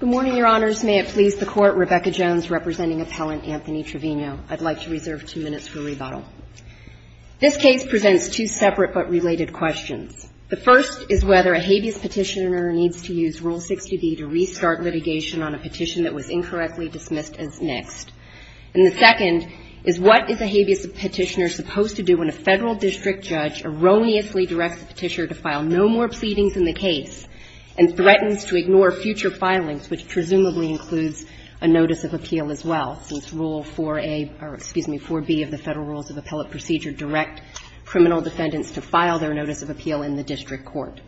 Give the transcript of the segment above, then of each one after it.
Good morning, Your Honors. May it please the Court, Rebecca Jones representing appellant Anthony Trevino. I'd like to reserve two minutes for rebuttal. This case presents two separate but related questions. The first is whether a habeas petitioner needs to use Rule 60B to restart litigation on a petition that was incorrectly dismissed as next. And the second is what is a habeas petitioner supposed to do when a federal district judge erroneously directs the petitioner to file no more pleadings in the case and threatens to ignore future filings, which presumably includes a notice of appeal as well, since Rule 4A or, excuse me, 4B of the Federal Rules of Appellate Procedure direct criminal defendants to file their notice of appeal in the district court.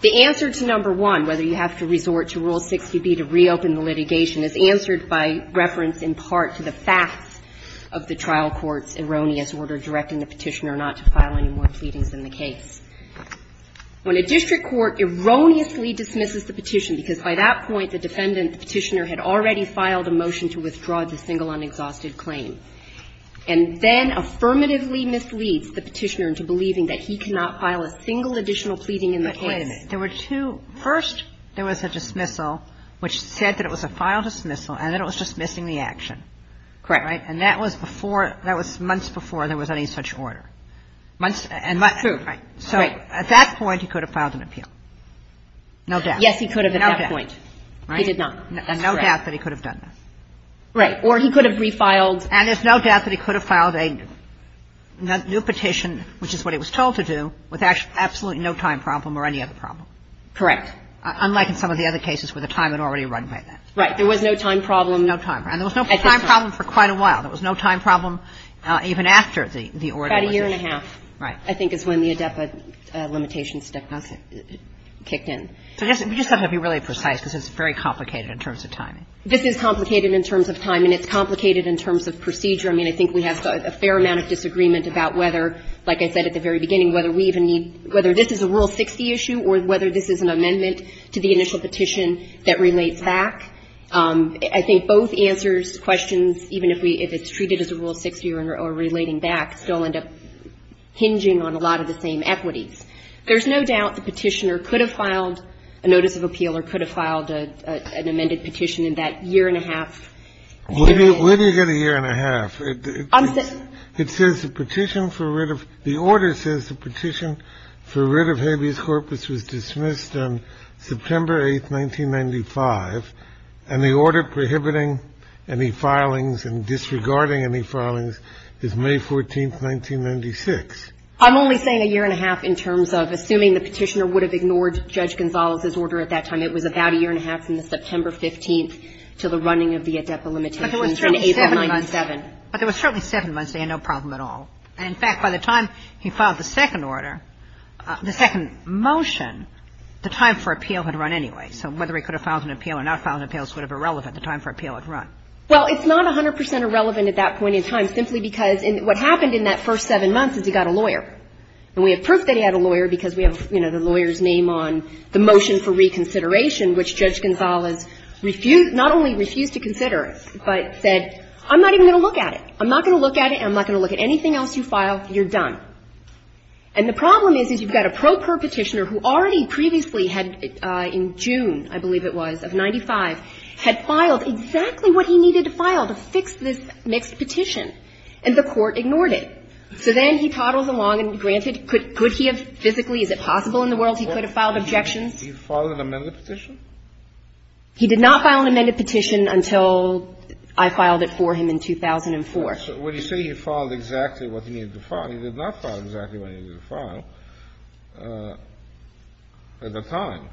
The answer to number one, whether you have to resort to Rule 60B to reopen the litigation, is answered by reference in part to the facts of the trial court's erroneous order of directing the petitioner not to file any more pleadings in the case. When a district court erroneously dismisses the petition, because by that point the defendant, the petitioner, had already filed a motion to withdraw the single unexhausted claim, and then affirmatively misleads the petitioner into believing that he cannot file a single additional pleading in the case. Kagan. But wait a minute. There were two. First, there was a dismissal which said that it was a filed dismissal, and then it was dismissing the action. And that was before, that was months before there was any such order. True. So at that point, he could have filed an appeal. No doubt. Yes, he could have at that point. No doubt. He did not. And no doubt that he could have done that. Right. Or he could have refiled. And there's no doubt that he could have filed a new petition, which is what he was told to do, with absolutely no time problem or any other problem. Correct. Unlike in some of the other cases where the time had already run by then. Right. There was no time problem. No time problem. And there was no time problem for quite a while. There was no time problem even after the order was issued. About a year and a half. Right. I think is when the ADEPA limitations kicked in. So just have to be really precise because it's very complicated in terms of timing. This is complicated in terms of timing. It's complicated in terms of procedure. I mean, I think we have a fair amount of disagreement about whether, like I said at the very beginning, whether we even need, whether this is a Rule 60 issue or whether this is an amendment to the initial petition that relates back. I think both answers questions, even if we, if it's treated as a Rule 60 or relating back, still end up hinging on a lot of the same equities. There's no doubt the petitioner could have filed a notice of appeal or could have filed an amended petition in that year and a half. Where do you get a year and a half? It says the petition for rid of, the order says the petition for rid of habeas corpus was dismissed on September 8th, 1995, and the order prohibiting any filings and disregarding any filings is May 14th, 1996. I'm only saying a year and a half in terms of assuming the petitioner would have ignored Judge Gonzales's order at that time. It was about a year and a half from the September 15th to the running of the ADEPA limitations in April 1997. But there was certainly seven months. But there was certainly seven months. They had no problem at all. And in fact, by the time he filed the second order, the second motion, the time for appeal had run anyway. So whether he could have filed an appeal or not filed an appeal is sort of irrelevant. The time for appeal had run. Well, it's not 100 percent irrelevant at that point in time simply because what happened in that first seven months is he got a lawyer. And we have proof that he had a lawyer because we have, you know, the lawyer's name on the motion for reconsideration, which Judge Gonzales refused, not only refused to consider, but said, I'm not even going to look at it. I'm not going to look at it. I'm not going to look at anything else you file. You're done. And the problem is, is you've got a pro per petitioner who already previously had in June, I believe it was, of 95, had filed exactly what he needed to file to fix this mixed petition. And the Court ignored it. So then he toddled along and, granted, could he have physically, is it possible in the world he could have filed objections? He filed an amended petition? He did not file an amended petition until I filed it for him in 2004. Kennedy, so when you say he filed exactly what he needed to file, he did not file exactly what he needed to file at the time.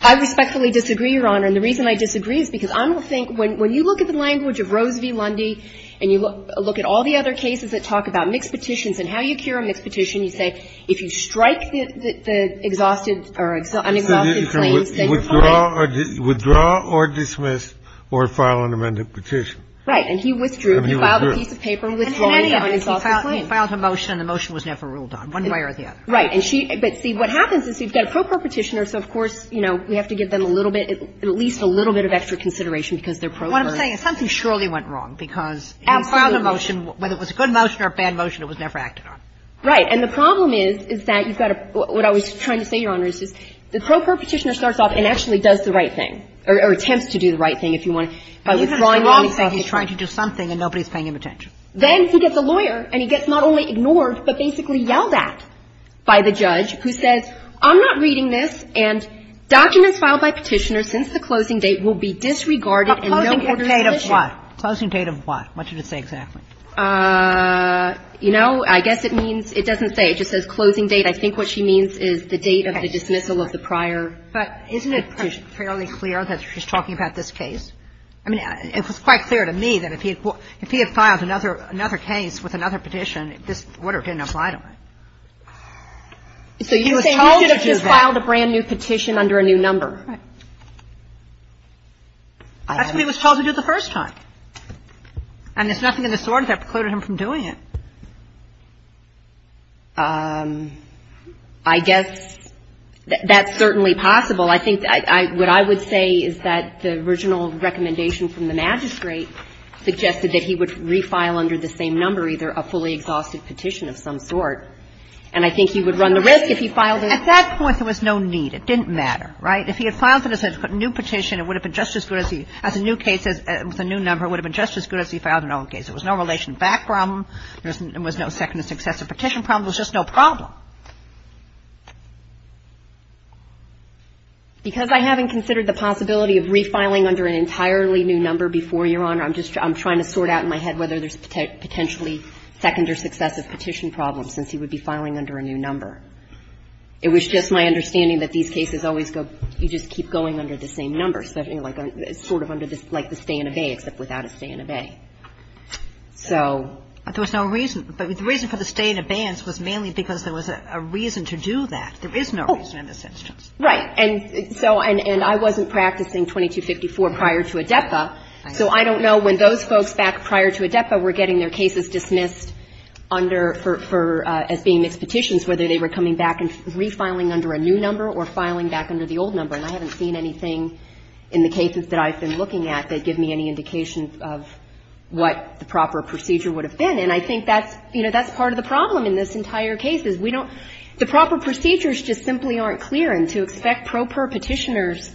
I respectfully disagree, Your Honor. And the reason I disagree is because I don't think when you look at the language of Rose v. Lundy and you look at all the other cases that talk about mixed petitions and how you cure a mixed petition, you say if you strike the exhausted or unexhausted claims, then you're fine. So you withdraw or dismiss or file an amended petition. Right. And he withdrew. He filed a piece of paper and withdrew on an exhausted claim. And he filed a motion and the motion was never ruled on, one way or the other. Right. And she – but see, what happens is you've got a pro-perpetitioner, so of course, you know, we have to give them a little bit, at least a little bit of extra consideration because they're pro-per. What I'm saying is something surely went wrong because he filed a motion, whether it was a good motion or a bad motion, it was never acted on. Right. And the problem is, is that you've got a – what I was trying to say, Your Honor, is just the pro-perpetitioner starts off and actually does the right thing, or attempts to do the right thing if you want, by withdrawing anything. And then he's trying to do something and nobody's paying him attention. Then he gets a lawyer and he gets not only ignored, but basically yelled at by the judge who says, I'm not reading this, and documents filed by Petitioner since the closing date will be disregarded and no more petition. A closing date of what? A closing date of what? What did it say exactly? You know, I guess it means – it doesn't say. It just says closing date. I think what she means is the date of the dismissal of the prior petition. But isn't it fairly clear that she's talking about this case? I mean, it was quite clear to me that if he had filed another case with another petition, this order couldn't apply to him. So you're saying he should have just filed a brand-new petition under a new number? Right. That's what he was told to do the first time. And there's nothing in this order that precluded him from doing it. I guess that's certainly possible. Well, I think what I would say is that the original recommendation from the magistrate suggested that he would re-file under the same number either a fully exhausted petition of some sort, and I think he would run the risk if he filed a new petition. At that point, there was no need. It didn't matter, right? If he had filed a new petition, it would have been just as good as he – as a new case with a new number, it would have been just as good as he filed an old case. There was no relation back problem. There was no second and successor petition problem. There was just no problem. Because I haven't considered the possibility of re-filing under an entirely new number before, Your Honor, I'm just – I'm trying to sort out in my head whether there's potentially second or successive petition problems, since he would be filing under a new number. It was just my understanding that these cases always go – you just keep going under the same number, sort of under the – like the stay and abey, except without a stay and obey. So – But there was no reason – but the reason for the stay and abeyance was mainly because there was a reason to do that. There is no reason in this instance. Oh, right. And so – and I wasn't practicing 2254 prior to ADEPA, so I don't know when those folks back prior to ADEPA were getting their cases dismissed under – for – as being mixed petitions, whether they were coming back and re-filing under a new number or filing back under the old number. And I haven't seen anything in the cases that I've been looking at that give me any indication of what the proper procedure would have been. And I think that's – you know, that's part of the problem in this entire case, is we don't – the proper procedures just simply aren't clear. And to expect pro per petitioners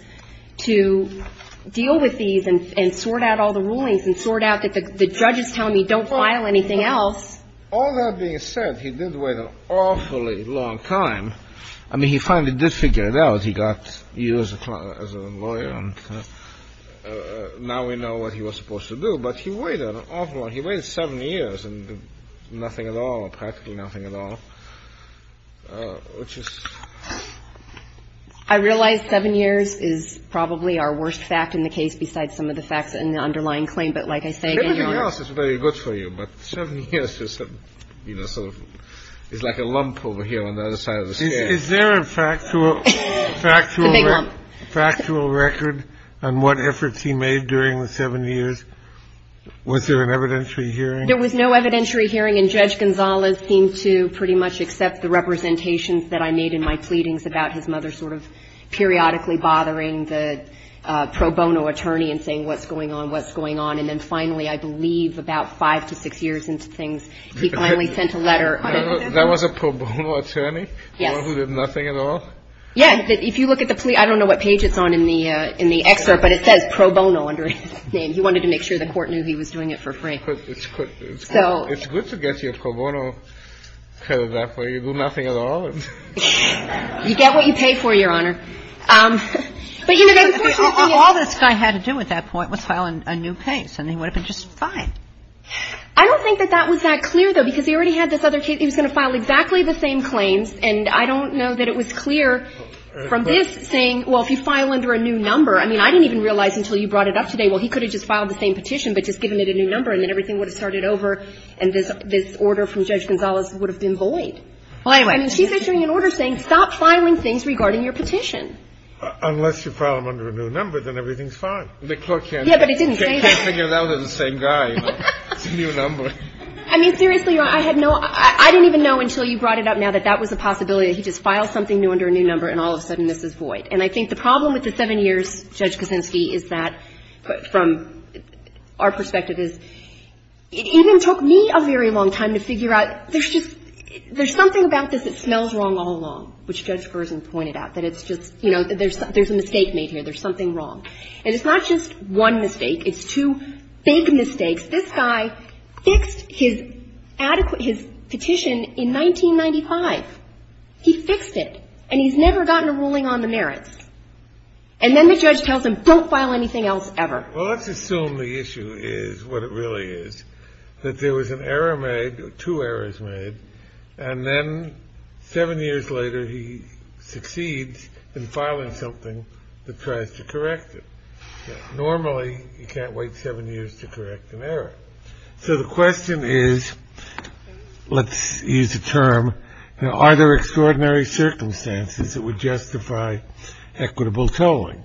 to deal with these and sort out all the rulings and sort out the – the judge is telling me don't file anything else. All that being said, he did wait an awfully long time. I mean, he finally did figure it out. He got – he was a lawyer, and now we know what he was supposed to do. But he waited an awful long – he waited seven years. And nothing at all, practically nothing at all, which is – I realize seven years is probably our worst fact in the case besides some of the facts in the underlying claim. But like I say – Everything else is very good for you. But seven years is sort of – is like a lump over here on the other side of the scale. Is there a factual – It's a big lump. – factual record on what efforts he made during the seven years? Was there an evidentiary hearing? There was no evidentiary hearing, and Judge Gonzales seemed to pretty much accept the representations that I made in my pleadings about his mother sort of periodically bothering the pro bono attorney and saying what's going on, what's going on. And then finally, I believe about five to six years into things, he finally sent a letter on a – That was a pro bono attorney? Yes. The one who did nothing at all? Yes. If you look at the – I don't know what page it's on in the – in the excerpt, but it says pro bono under his name. He wanted to make sure the Court knew he was doing it for free. It's good to get your pro bono credit that way. You do nothing at all. You get what you pay for, Your Honor. But, you know, the important thing is – All this guy had to do at that point was file a new case, and he would have been just fine. I don't think that that was that clear, though, because he already had this other case. He was going to file exactly the same claims. And I don't know that it was clear from this saying, well, if you file under a new number – I mean, I didn't even realize until you brought it up today. Well, he could have just filed the same petition, but just given it a new number, and then everything would have started over, and this – this order from Judge Gonzalez would have been void. Well, anyway. I mean, she's issuing an order saying stop filing things regarding your petition. Unless you file them under a new number, then everything's fine. The Court can't – Yeah, but it didn't say that. Can't figure it out. They're the same guy, you know. It's a new number. I mean, seriously, Your Honor. I had no – I didn't even know until you brought it up now that that was a possibility, that he just filed something new under a new number, and all of a sudden this is void. And I think the problem with the seven years, Judge Kosinski, is that, from our perspective, is it even took me a very long time to figure out there's just – there's something about this that smells wrong all along, which Judge Gersen pointed out, that it's just – you know, there's a mistake made here. There's something wrong. And it's not just one mistake. It's two big mistakes. This guy fixed his adequate – his petition in 1995. He fixed it. And he's never gotten a ruling on the merits. And then the judge tells him, don't file anything else ever. Well, let's assume the issue is what it really is, that there was an error made, two errors made, and then seven years later he succeeds in filing something that tries to correct it. Normally, you can't wait seven years to correct an error. So the question is – let's use a term – are there extraordinary circumstances that would justify equitable tolling?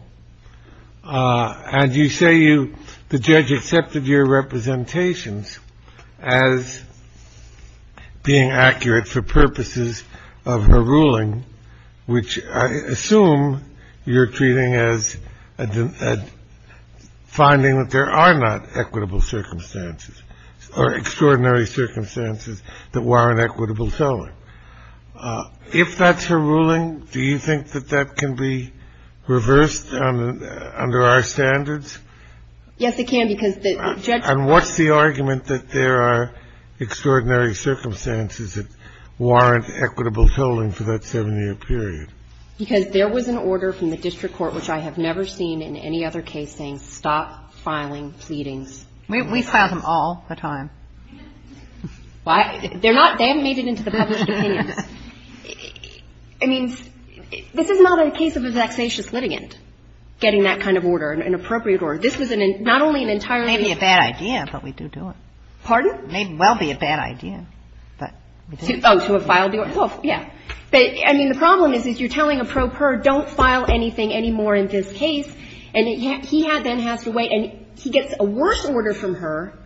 And you say you – the judge accepted your representations as being accurate for purposes of her ruling, which I assume you're treating as finding that there are not equitable circumstances or extraordinary circumstances that warrant equitable tolling. If that's her ruling, do you think that that can be reversed under our standards? Yes, it can, because the judge – And what's the argument that there are extraordinary circumstances that warrant equitable tolling for that seven-year period? Because there was an order from the district court, which I have never seen in any other case, saying stop filing pleadings. We file them all the time. Why? They're not – they haven't made it into the published opinions. I mean, this is not a case of a vexatious litigant getting that kind of order, an appropriate order. This was not only an entirely – It may be a bad idea, but we do do it. Pardon? It may well be a bad idea, but we do do it. Oh, to have filed the order? Well, yeah. But, I mean, the problem is, is you're telling a pro per don't file anything anymore in this case, and he then has to wait. And he gets a worse order from her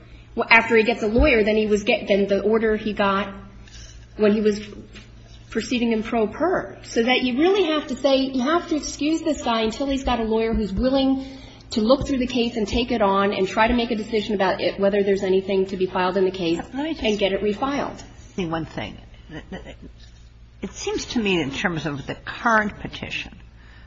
after he gets a lawyer than he was – than the order he got when he was proceeding in pro per. So that you really have to say, you have to excuse this guy until he's got a lawyer who's willing to look through the case and take it on and try to make a decision about it, whether there's anything to be filed in the case and get it refiled. Let me just say one thing. It seems to me in terms of the current petition,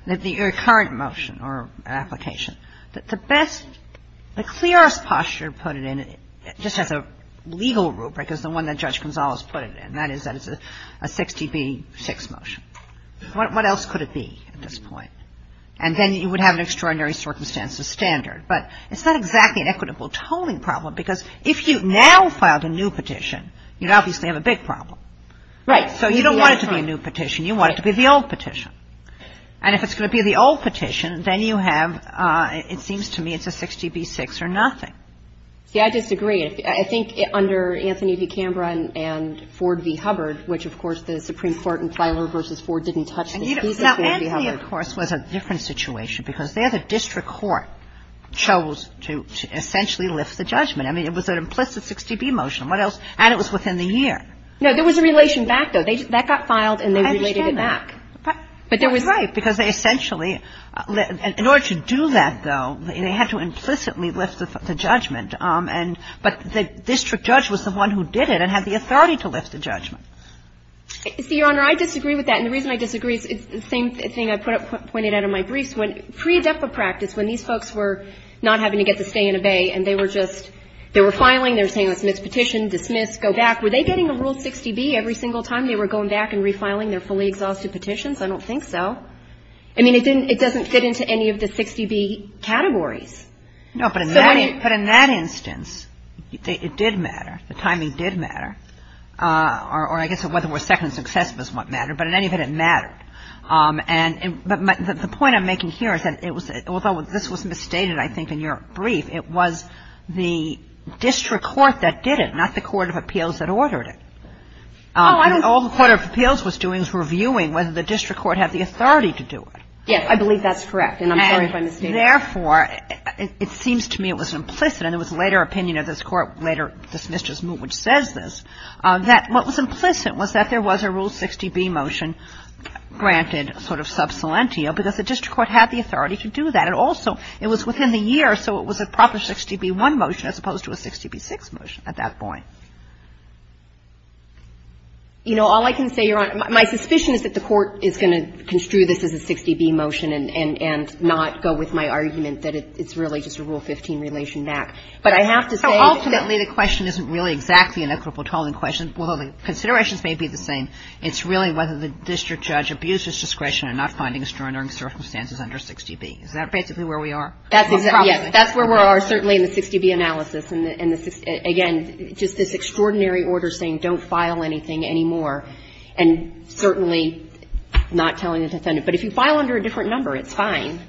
the current motion or application, that the best – the clearest posture put in it, just as a legal rubric, is the one that Judge Gonzales put it in, and that is that it's a 6db6 motion. What else could it be at this point? And then you would have an extraordinary circumstances standard. But it's not exactly an equitable toning problem, because if you now filed a new petition, you'd obviously have a big problem. Right. So you don't want it to be a new petition. You want it to be the old petition. And if it's going to be the old petition, then you have – it seems to me it's a 6db6 or nothing. See, I disagree. I think under Anthony v. Canberra and Ford v. Hubbard, which, of course, the Supreme Court in Filer v. Ford didn't touch this. He said Ford v. Hubbard. Now, Anthony, of course, was a different situation, because there the district court chose to essentially lift the judgment. I mean, it was an implicit 6db motion. What else? And it was within the year. No, there was a relation back, though. That got filed, and they related it back. I understand that. But there was – That's right, because they essentially – in order to do that, though, they had to implicitly lift the judgment. But the district judge was the one who did it and had the authority to lift the judgment. See, Your Honor, I disagree with that. And the reason I disagree is the same thing I pointed out in my briefs. When – pre-DEFA practice, when these folks were not having to get the stay and obey and they were just – they were filing, they were saying let's submit this petition, dismiss, go back. Were they getting a rule 6db every single time they were going back and refiling their fully exhausted petitions? I don't think so. I mean, it didn't – it doesn't fit into any of the 6db categories. No, but in that instance, it did matter. The timing did matter. Or I guess whether we're second success was what mattered. But in any event, it mattered. And – but the point I'm making here is that it was – although this was misstated, I think, in your brief, it was the district court that did it, not the court of appeals that ordered it. Oh, I don't – All the court of appeals was doing was reviewing whether the district court had the authority Yes, I believe that's correct. And I'm sorry if I misstated. Therefore, it seems to me it was implicit, and there was later opinion of this Court, later dismissed as moot, which says this, that what was implicit was that there was a rule 6db motion granted sort of sub salentio because the district court had the authority to do that. And also, it was within the year, so it was a proper 6db1 motion as opposed to a 6db6 motion at that point. You know, all I can say, Your Honor, my suspicion is that the Court is going to construe this as a 6db motion and not go with my argument that it's really just a Rule 15 relation back. But I have to say that – Ultimately, the question isn't really exactly an equitable tolling question, although the considerations may be the same. It's really whether the district judge abused his discretion in not finding extraordinary circumstances under 6db. Is that basically where we are? Yes. That's where we are, certainly, in the 6db analysis. And, again, just this extraordinary order saying don't file anything anymore and certainly not telling the defendant. But if you file under a different number, it's fine.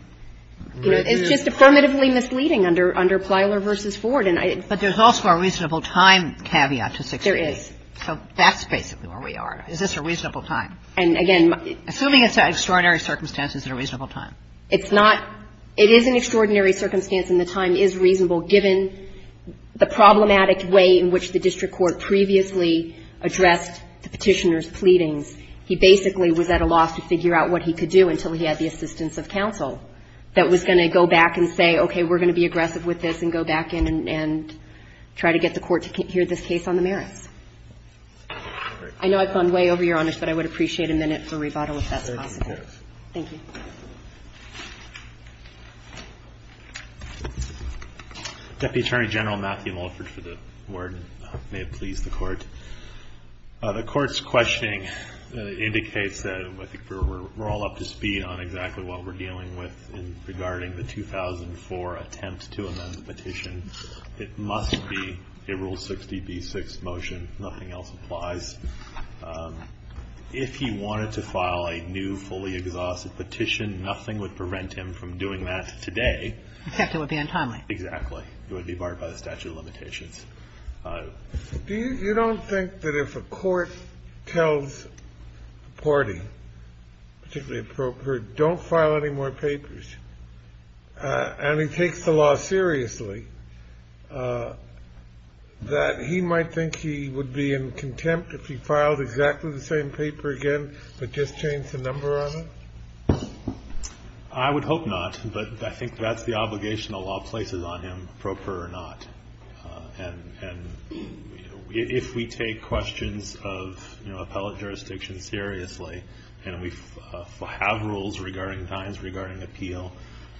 It's just affirmatively misleading under Plyler v. Ford. But there's also a reasonable time caveat to 6db. There is. So that's basically where we are. Is this a reasonable time? And, again, my – Assuming it's an extraordinary circumstance, is it a reasonable time? It's not. It is an extraordinary circumstance and the time is reasonable given the problematic way in which the district court previously addressed the Petitioner's pleadings. He basically was at a loss to figure out what he could do until he had the assistance of counsel that was going to go back and say, okay, we're going to be aggressive with this and go back in and try to get the court to hear this case on the merits. I know I've gone way over your honors, but I would appreciate a minute for rebuttal if that's possible. Thank you. Deputy Attorney General Matthew Mulford for the ward. May it please the Court. The Court's questioning indicates that I think we're all up to speed on exactly what we're dealing with regarding the 2004 attempt to amend the petition. It must be a Rule 60b-6 motion. Nothing else applies. If he wanted to file a new, fully exhaustive petition, nothing would prevent him from doing that today. Except it would be untimely. Exactly. It would be barred by the statute of limitations. You don't think that if a court tells a party, particularly a broker, don't file any more papers, and he takes the law seriously, that he might think he would be in contempt if he filed exactly the same paper again, but just changed the number on it? I would hope not, but I think that's the obligation the law places on him, proper or not. And if we take questions of, you know, appellate jurisdiction seriously, and we have rules regarding times, regarding appeal,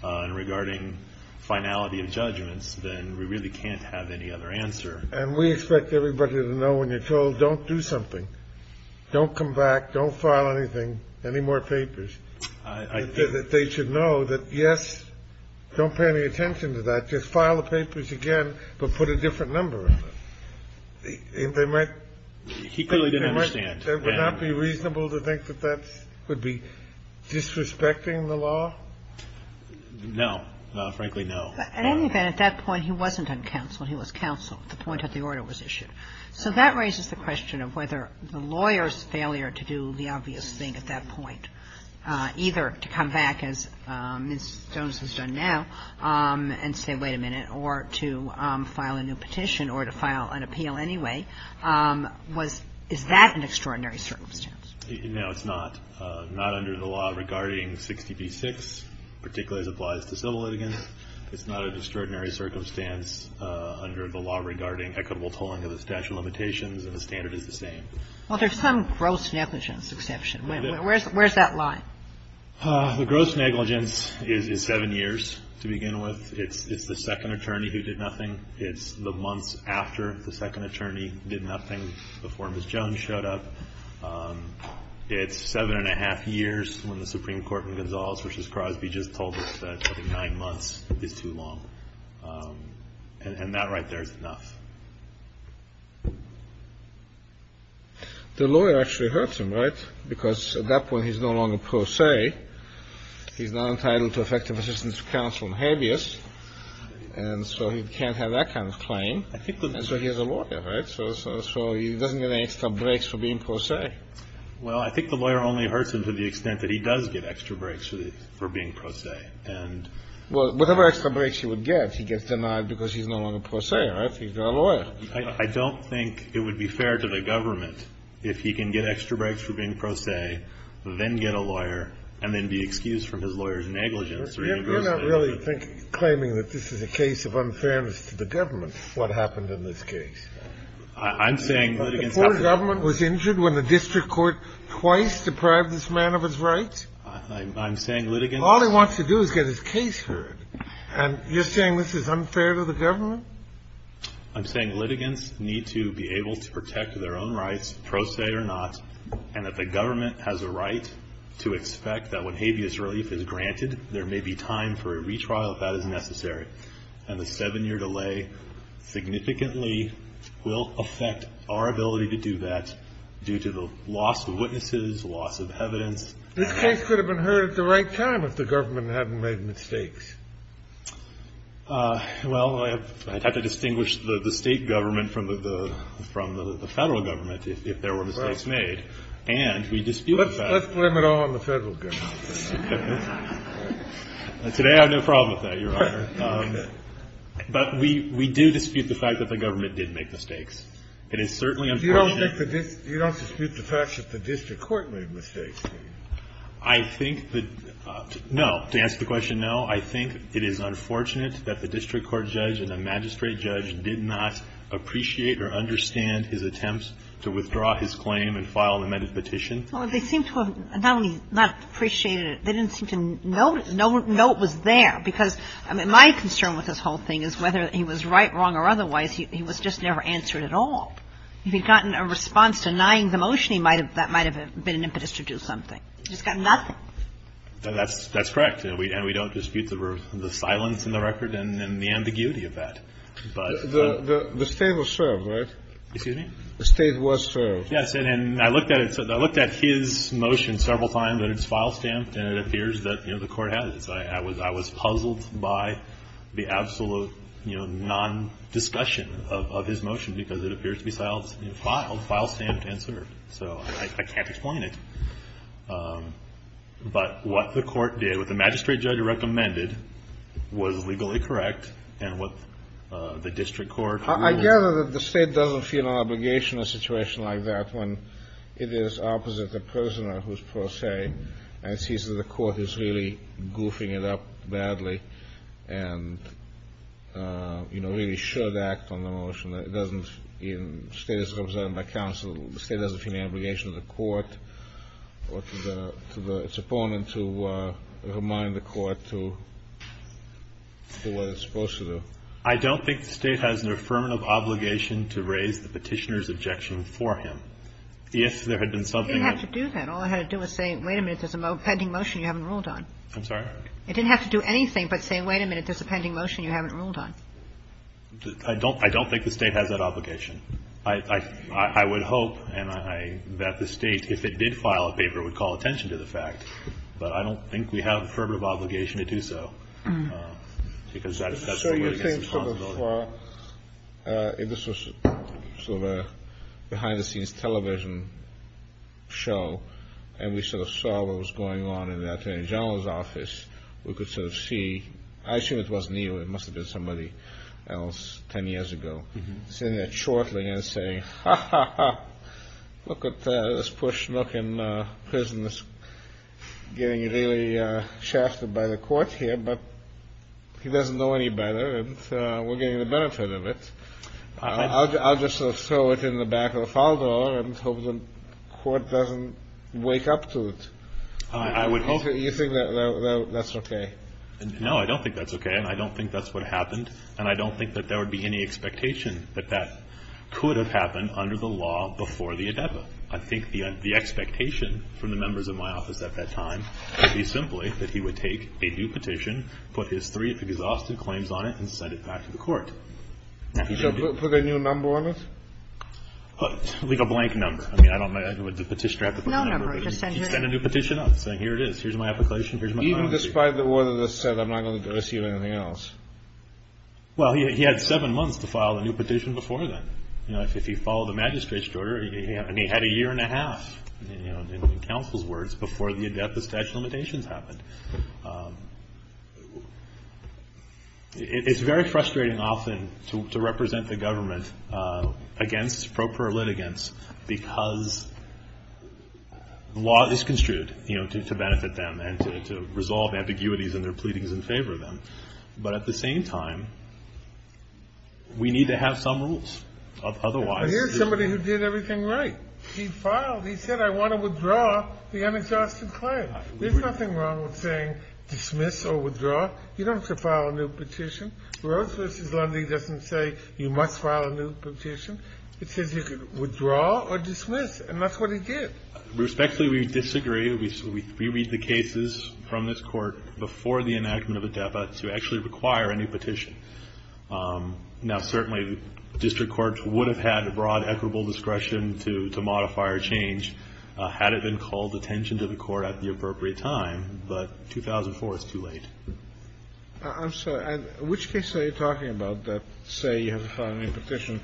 and regarding finality of judgments, then we really can't have any other answer. And we expect everybody to know when you're told, don't do something, don't come back, don't file anything, any more papers, that they should know that, yes, don't pay any attention to that, just file the papers again, but put a different number on it. They might not be reasonable to think that that would be disrespecting the law? No. Frankly, no. At any event, at that point, he wasn't uncounseled. He was counseled at the point that the order was issued. So that raises the question of whether the lawyer's failure to do the obvious thing at that point, either to come back, as Ms. Jones has done now, and say, wait a minute, or to file a new petition or to file an appeal anyway, was — is that an extraordinary circumstance? No, it's not. Not under the law regarding 60b-6, particularly as applies to civil litigants. It's not an extraordinary circumstance under the law regarding equitable tolling of the statute of limitations, and the standard is the same. Well, there's some gross negligence exception. Where's that line? The gross negligence is 7 years to begin with. It's the second attorney who did nothing. It's the months after the second attorney did nothing before Ms. Jones showed up. It's 7 1⁄2 years when the Supreme Court in Gonzales v. Crosby just told us that 9 months is too long. And that right there is enough. The lawyer actually hurts him, right? Because at that point he's no longer pro se. He's not entitled to effective assistance from counsel and habeas. And so he can't have that kind of claim. And so he's a lawyer, right? So he doesn't get any extra breaks for being pro se. Well, I think the lawyer only hurts him to the extent that he does get extra breaks for being pro se. Well, whatever extra breaks he would get, he gets denied because he's no longer pro se, right? He's not a lawyer. I don't think it would be fair to the government if he can get extra breaks for being pro se, then get a lawyer, and then be excused from his lawyer's negligence. You're not really claiming that this is a case of unfairness to the government, what happened in this case. I'm saying litigants have to be punished. The poor government was injured when the district court twice deprived this man of his rights? I'm saying litigants have to be punished. All he wants to do is get his case heard. And you're saying this is unfair to the government? I'm saying litigants need to be able to protect their own rights, pro se or not, and that the government has a right to expect that when habeas relief is granted, there may be time for a retrial if that is necessary. And the seven-year delay significantly will affect our ability to do that due to the loss of witnesses, loss of evidence. This case could have been heard at the right time if the government hadn't made mistakes. Well, I'd have to distinguish the State government from the Federal government if there were mistakes made. And we dispute that. Let's blame it all on the Federal government. Today I have no problem with that, Your Honor. But we do dispute the fact that the government did make mistakes. It is certainly unfortunate. You don't dispute the fact that the district court made mistakes, do you? I think that no. To answer the question, no. I think it is unfortunate that the district court judge and the magistrate judge did not appreciate or understand his attempts to withdraw his claim and file an amended petition. Well, they seem to have not only not appreciated it, they didn't seem to know it was there, because my concern with this whole thing is whether he was right, wrong or otherwise, he was just never answered at all. If he had gotten a response denying the motion, that might have been an impetus to do something. He's got nothing. That's correct. And we don't dispute the silence in the record and the ambiguity of that. The State was served, right? Excuse me? The State was served. Yes. And I looked at his motion several times, and it's file stamped, and it appears that the Court has. I was puzzled by the absolute non-discussion of his motion, because it appears to be filed, file stamped and served. So I can't explain it. But what the Court did, what the magistrate judge recommended was legally correct, and what the district court. I gather that the State doesn't feel an obligation in a situation like that when it is opposite the prisoner, who is pro se, and sees that the Court is really goofing it up badly and, you know, really should act on the motion. It doesn't, in a State that's represented by counsel, the State doesn't feel an obligation to the Court or to its opponent to remind the Court to do what it's supposed to do. I don't think the State has an affirmative obligation to raise the Petitioner's objection for him. If there had been something that ---- It didn't have to do that. All it had to do was say, wait a minute, there's a pending motion you haven't ruled on. I'm sorry? It didn't have to do anything but say, wait a minute, there's a pending motion you haven't ruled on. I don't think the State has that obligation. I would hope that the State, if it did file a paper, would call attention to the fact. But I don't think we have an affirmative obligation to do so, because that's the word against responsibility. So you're saying so before, if this was sort of a behind-the-scenes television show, and we sort of saw what was going on in the Attorney General's office, we could sort of see, I assume it wasn't you, it must have been somebody else ten years ago, sitting there chortling and saying, ha, ha, ha, look at this poor schmuck in prison getting really shafted by the Court here, but he doesn't know any better, and we're getting the benefit of it. I'll just sort of throw it in the back of the file drawer and hope the Court doesn't wake up to it. I would hope. You think that's okay? No, I don't think that's okay, and I don't think that's what happened, and I don't think that there would be any expectation that that could have happened under the law before the endeavor. I think the expectation from the members of my office at that time would be simply that he would take a new petition, put his three exhausted claims on it, and send it back to the Court. So put a new number on it? Like a blank number. I mean, I don't know. You can't just send a petitioner up with a blank number. No, no, no. You just send your own. You can't send a new petition up saying here it is, here's my application, here's my claim. Even despite the order that's set, I'm not going to go and sue anything else? Well, he had seven months to file a new petition before then. You know, if you follow the magistrate's order, he had a year and a half, you know, in counsel's words, before the statute of limitations happened. It's very frustrating often to represent the government against pro pura litigants because the law is construed, you know, to benefit them and to resolve ambiguities in their pleadings in favor of them. But at the same time, we need to have some rules. But here's somebody who did everything right. He filed. He said, I want to withdraw the unadjusted claim. There's nothing wrong with saying dismiss or withdraw. You don't have to file a new petition. Rose v. Lundy doesn't say you must file a new petition. It says you can withdraw or dismiss. And that's what he did. Respectfully, we disagree. We read the cases from this Court before the enactment of a deba to actually require a new petition. Now, certainly, district courts would have had a broad equitable discretion to modify or change had it been called attention to the Court at the appropriate time. But 2004 is too late. I'm sorry. And which case are you talking about that say you have to file a new petition?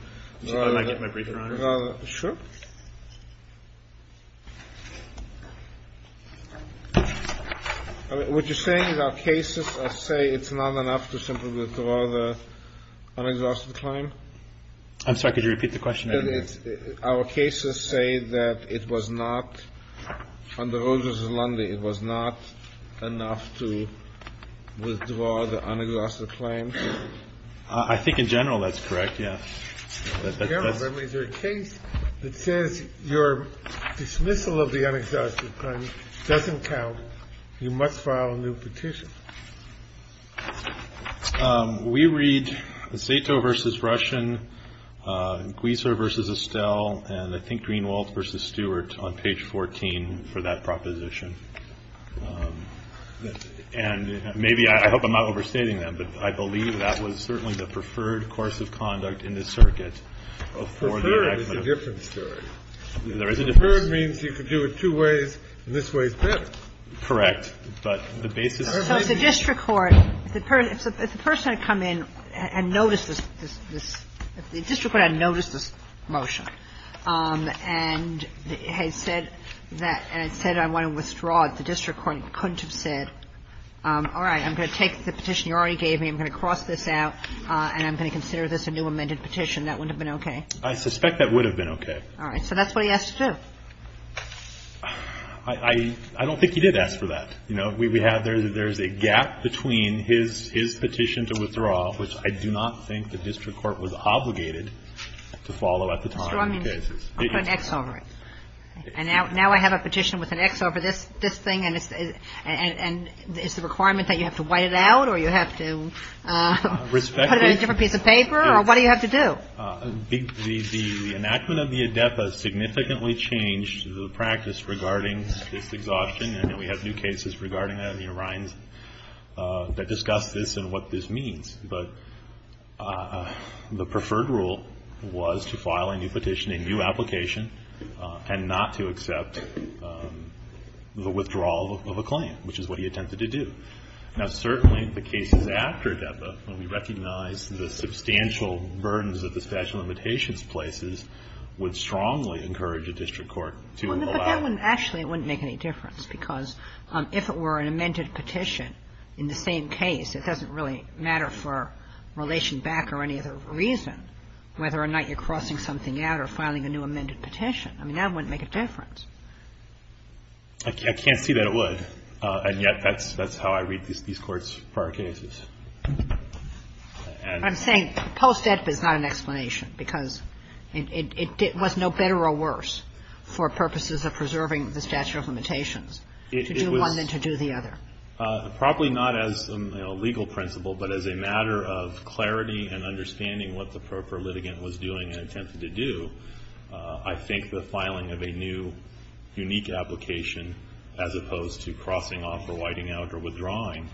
I might get my briefer on it. Sure. What you're saying is our cases say it's not enough to simply withdraw the unadjusted claim? I'm sorry. Could you repeat the question? Our cases say that it was not under Rose v. Lundy, it was not enough to withdraw the unadjusted claim? I think in general that's correct, yes. In general, that means there's a case that says your dismissal of the unadjusted claim doesn't count. You must file a new petition. We read the Sato v. Russian, Gweiser v. Estelle, and I think Greenwald v. Stewart on page 14 for that proposition. And maybe, I hope I'm not overstating that, but I believe that was certainly the preferred course of conduct in this circuit. Preferred is a different story. There is a difference. Preferred means you could do it two ways, and this way is better. Correct. But the basis is different. So if the district court, if the person had come in and noticed this, if the district court had noticed this motion and had said that, and had said I want to withdraw it, the district court couldn't have said, all right, I'm going to take the petition you already gave me, I'm going to cross this out, and I'm going to consider this a new amended petition, that wouldn't have been okay? I suspect that would have been okay. All right. So that's what he asked to do. I don't think he did ask for that. You know, we have there's a gap between his petition to withdraw, which I do not think the district court was obligated to follow at the time. I'll put an X over it. And now I have a petition with an X over this thing, and it's the requirement that you have to white it out or you have to put it in a different piece of paper, or what do you have to do? The enactment of the ADEPA significantly changed the practice regarding this exhaustion, and we have new cases regarding that in the Orion that discuss this and what this means. But the preferred rule was to file a new petition, a new application, and not to accept the withdrawal of a claim, which is what he attempted to do. Now, certainly, the cases after ADEPA, when we recognize the substantial burdens that the statute of limitations places, would strongly encourage a district court to allow it. But that wouldn't actually, it wouldn't make any difference, because if it were an extension or a relation back or any other reason, whether or not you're crossing something out or filing a new amended petition, I mean, that wouldn't make a difference. I can't see that it would, and yet that's how I read these courts' prior cases. I'm saying post-ADEPA is not an explanation, because it was no better or worse for purposes of preserving the statute of limitations to do one than to do the other. Probably not as a legal principle, but as a matter of clarity and understanding what the appropriate litigant was doing and attempted to do, I think the filing of a new, unique application, as opposed to crossing off or whiting out or withdrawing,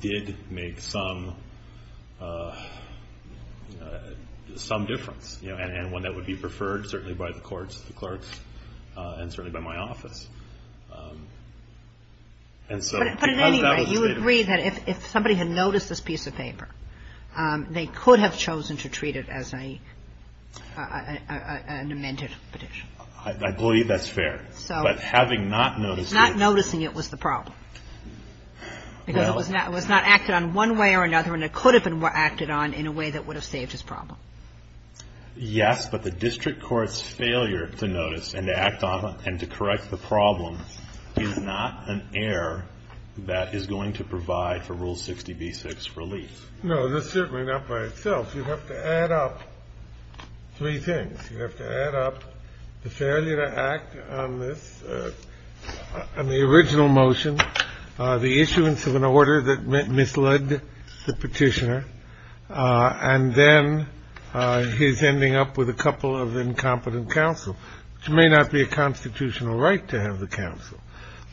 did make some difference, and one that would be preferred certainly by the courts, and so because that was stated. Kagan. But at any rate, you agree that if somebody had noticed this piece of paper, they could have chosen to treat it as a, an amended petition. I believe that's fair. So. But having not noticed it. Not noticing it was the problem. No. Because it was not acted on one way or another, and it could have been acted on in a way that would have saved his problem. Yes, but the district court's failure to notice and act on and to correct the problem is not an error that is going to provide for Rule 60b-6 relief. No, certainly not by itself. You have to add up three things. You have to add up the failure to act on this, on the original motion, the issuance of an order that misled the petitioner, and then his ending up with a couple of incompetent counsel, which may not be a constitutional right to have the counsel.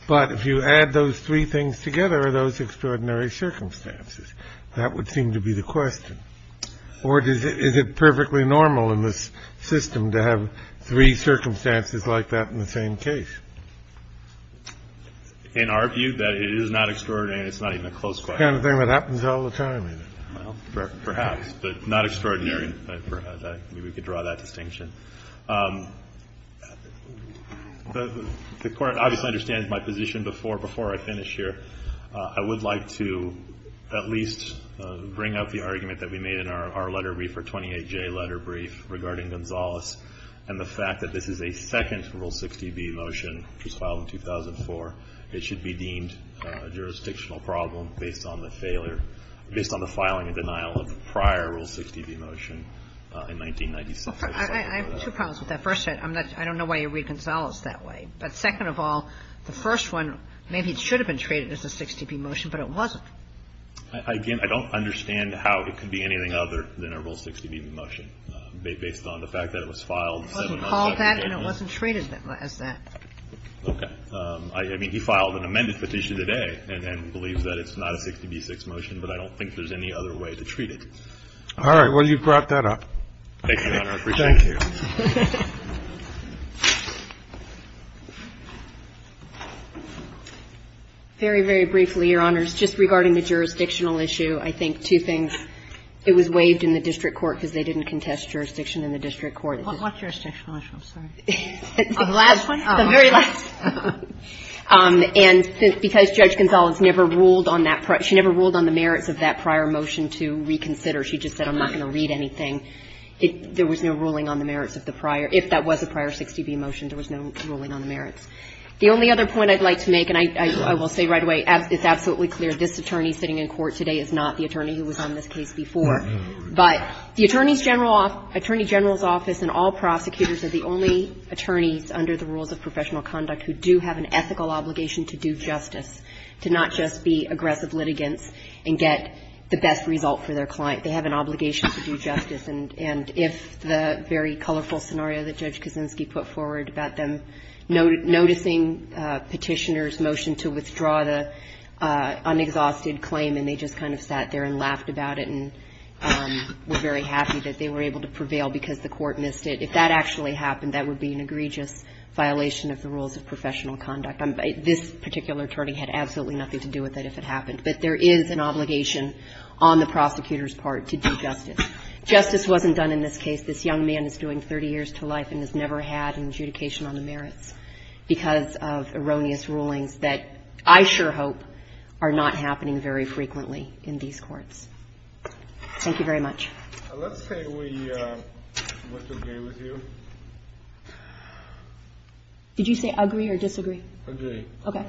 But if you add those three things together, those extraordinary circumstances, that would seem to be the question. Or is it perfectly normal in this system to have three circumstances like that in the same case? In our view, that is not extraordinary, and it's not even a close question. The kind of thing that happens all the time, isn't it? Well, perhaps. But not extraordinary. Maybe we could draw that distinction. The Court obviously understands my position. Before I finish here, I would like to at least bring up the argument that we made in our letter brief, our 28J letter brief, regarding Gonzales and the fact that this is a second Rule 60b motion that was filed in 2004. It should be deemed a jurisdictional problem based on the failure, based on the filing and denial of the prior Rule 60b motion in 1996. I have two problems with that. First, I don't know why you read Gonzales that way. But second of all, the first one, maybe it should have been treated as a 60b motion, but it wasn't. Again, I don't understand how it could be anything other than a Rule 60b motion, based on the fact that it was filed seven months after. He called that and it wasn't treated as that. Okay. I mean, he filed an amended petition today and believes that it's not a 60b6 motion, but I don't think there's any other way to treat it. All right. Well, you brought that up. Thank you, Your Honor. I appreciate it. Thank you. Very, very briefly, Your Honors, just regarding the jurisdictional issue, I think two things. It was waived in the district court because they didn't contest jurisdiction in the district court. What jurisdictional issue? I'm sorry. The last one? The very last one. And because Judge Gonzales never ruled on that prior – she never ruled on the merits of that prior motion to reconsider. She just said, I'm not going to read anything. There was no ruling on the merits of the prior – if that was a prior 60b motion, there was no ruling on the merits. The only other point I'd like to make, and I will say right away, it's absolutely clear this attorney sitting in court today is not the attorney who was on this case before. But the Attorney General's Office and all prosecutors are the only attorneys under the rules of professional conduct who do have an ethical obligation to do justice, to not just be aggressive litigants and get the best result for their client. They have an obligation to do justice. And if the very colorful scenario that Judge Kosinski put forward about them noticing Petitioner's motion to withdraw the unexhausted claim and they just kind of sat there and laughed about it and were very happy that they were able to prevail because the court missed it, if that actually happened, that would be an egregious violation of the rules of professional conduct. This particular attorney had absolutely nothing to do with it if it happened. But there is an obligation on the prosecutor's part to do justice. Justice wasn't done in this case. This young man is doing 30 years to life and has never had an adjudication on the merits because of erroneous rulings that I sure hope are not happening very frequently in these courts. Thank you very much. Let's say we want to agree with you. Did you say agree or disagree? Agree. Okay.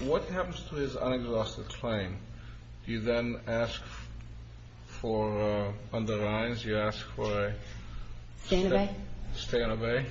What happens to his unexhausted claim? Do you then ask for underlines? Do you ask for a stay and obey?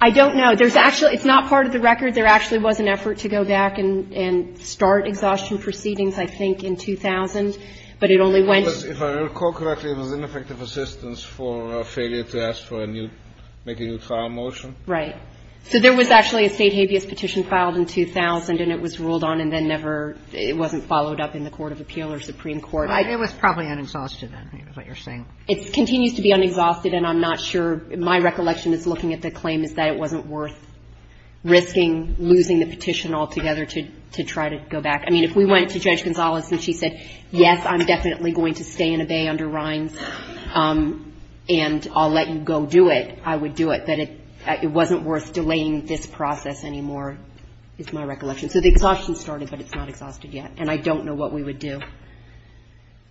I don't know. There's actually – it's not part of the record. There actually was an effort to go back and start exhaustion proceedings, I think, in 2000. But it only went – If I recall correctly, it was ineffective assistance for failure to ask for a new – make a new trial motion. Right. So there was actually a State habeas petition filed in 2000, and it was ruled on and then never – it wasn't followed up in the court of appeal or Supreme Court. It was probably unexhausted, then, is what you're saying. It continues to be unexhausted, and I'm not sure – my recollection is looking at the claim is that it wasn't worth risking losing the petition altogether to try to go back. I mean, if we went to Judge Gonzalez and she said, yes, I'm definitely going to stay and obey underlines, and I'll let you go do it, I would do it. But it wasn't worth delaying this process anymore, is my recollection. So the exhaustion started, but it's not exhausted yet. And I don't know what we would do.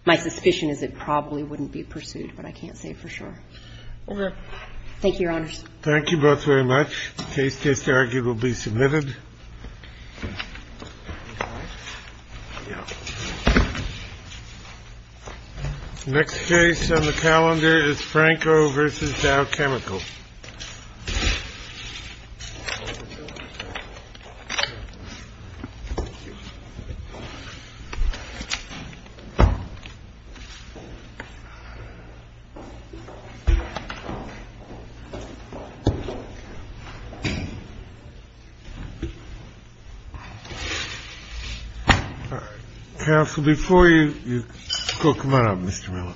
My suspicion is it probably wouldn't be pursued, but I can't say for sure. Okay. Thank you, Your Honors. Thank you both very much. The case case to argue will be submitted. Next case on the calendar is Franco versus Dow Chemical. Counsel, before you go, come on up, Mr. Miller.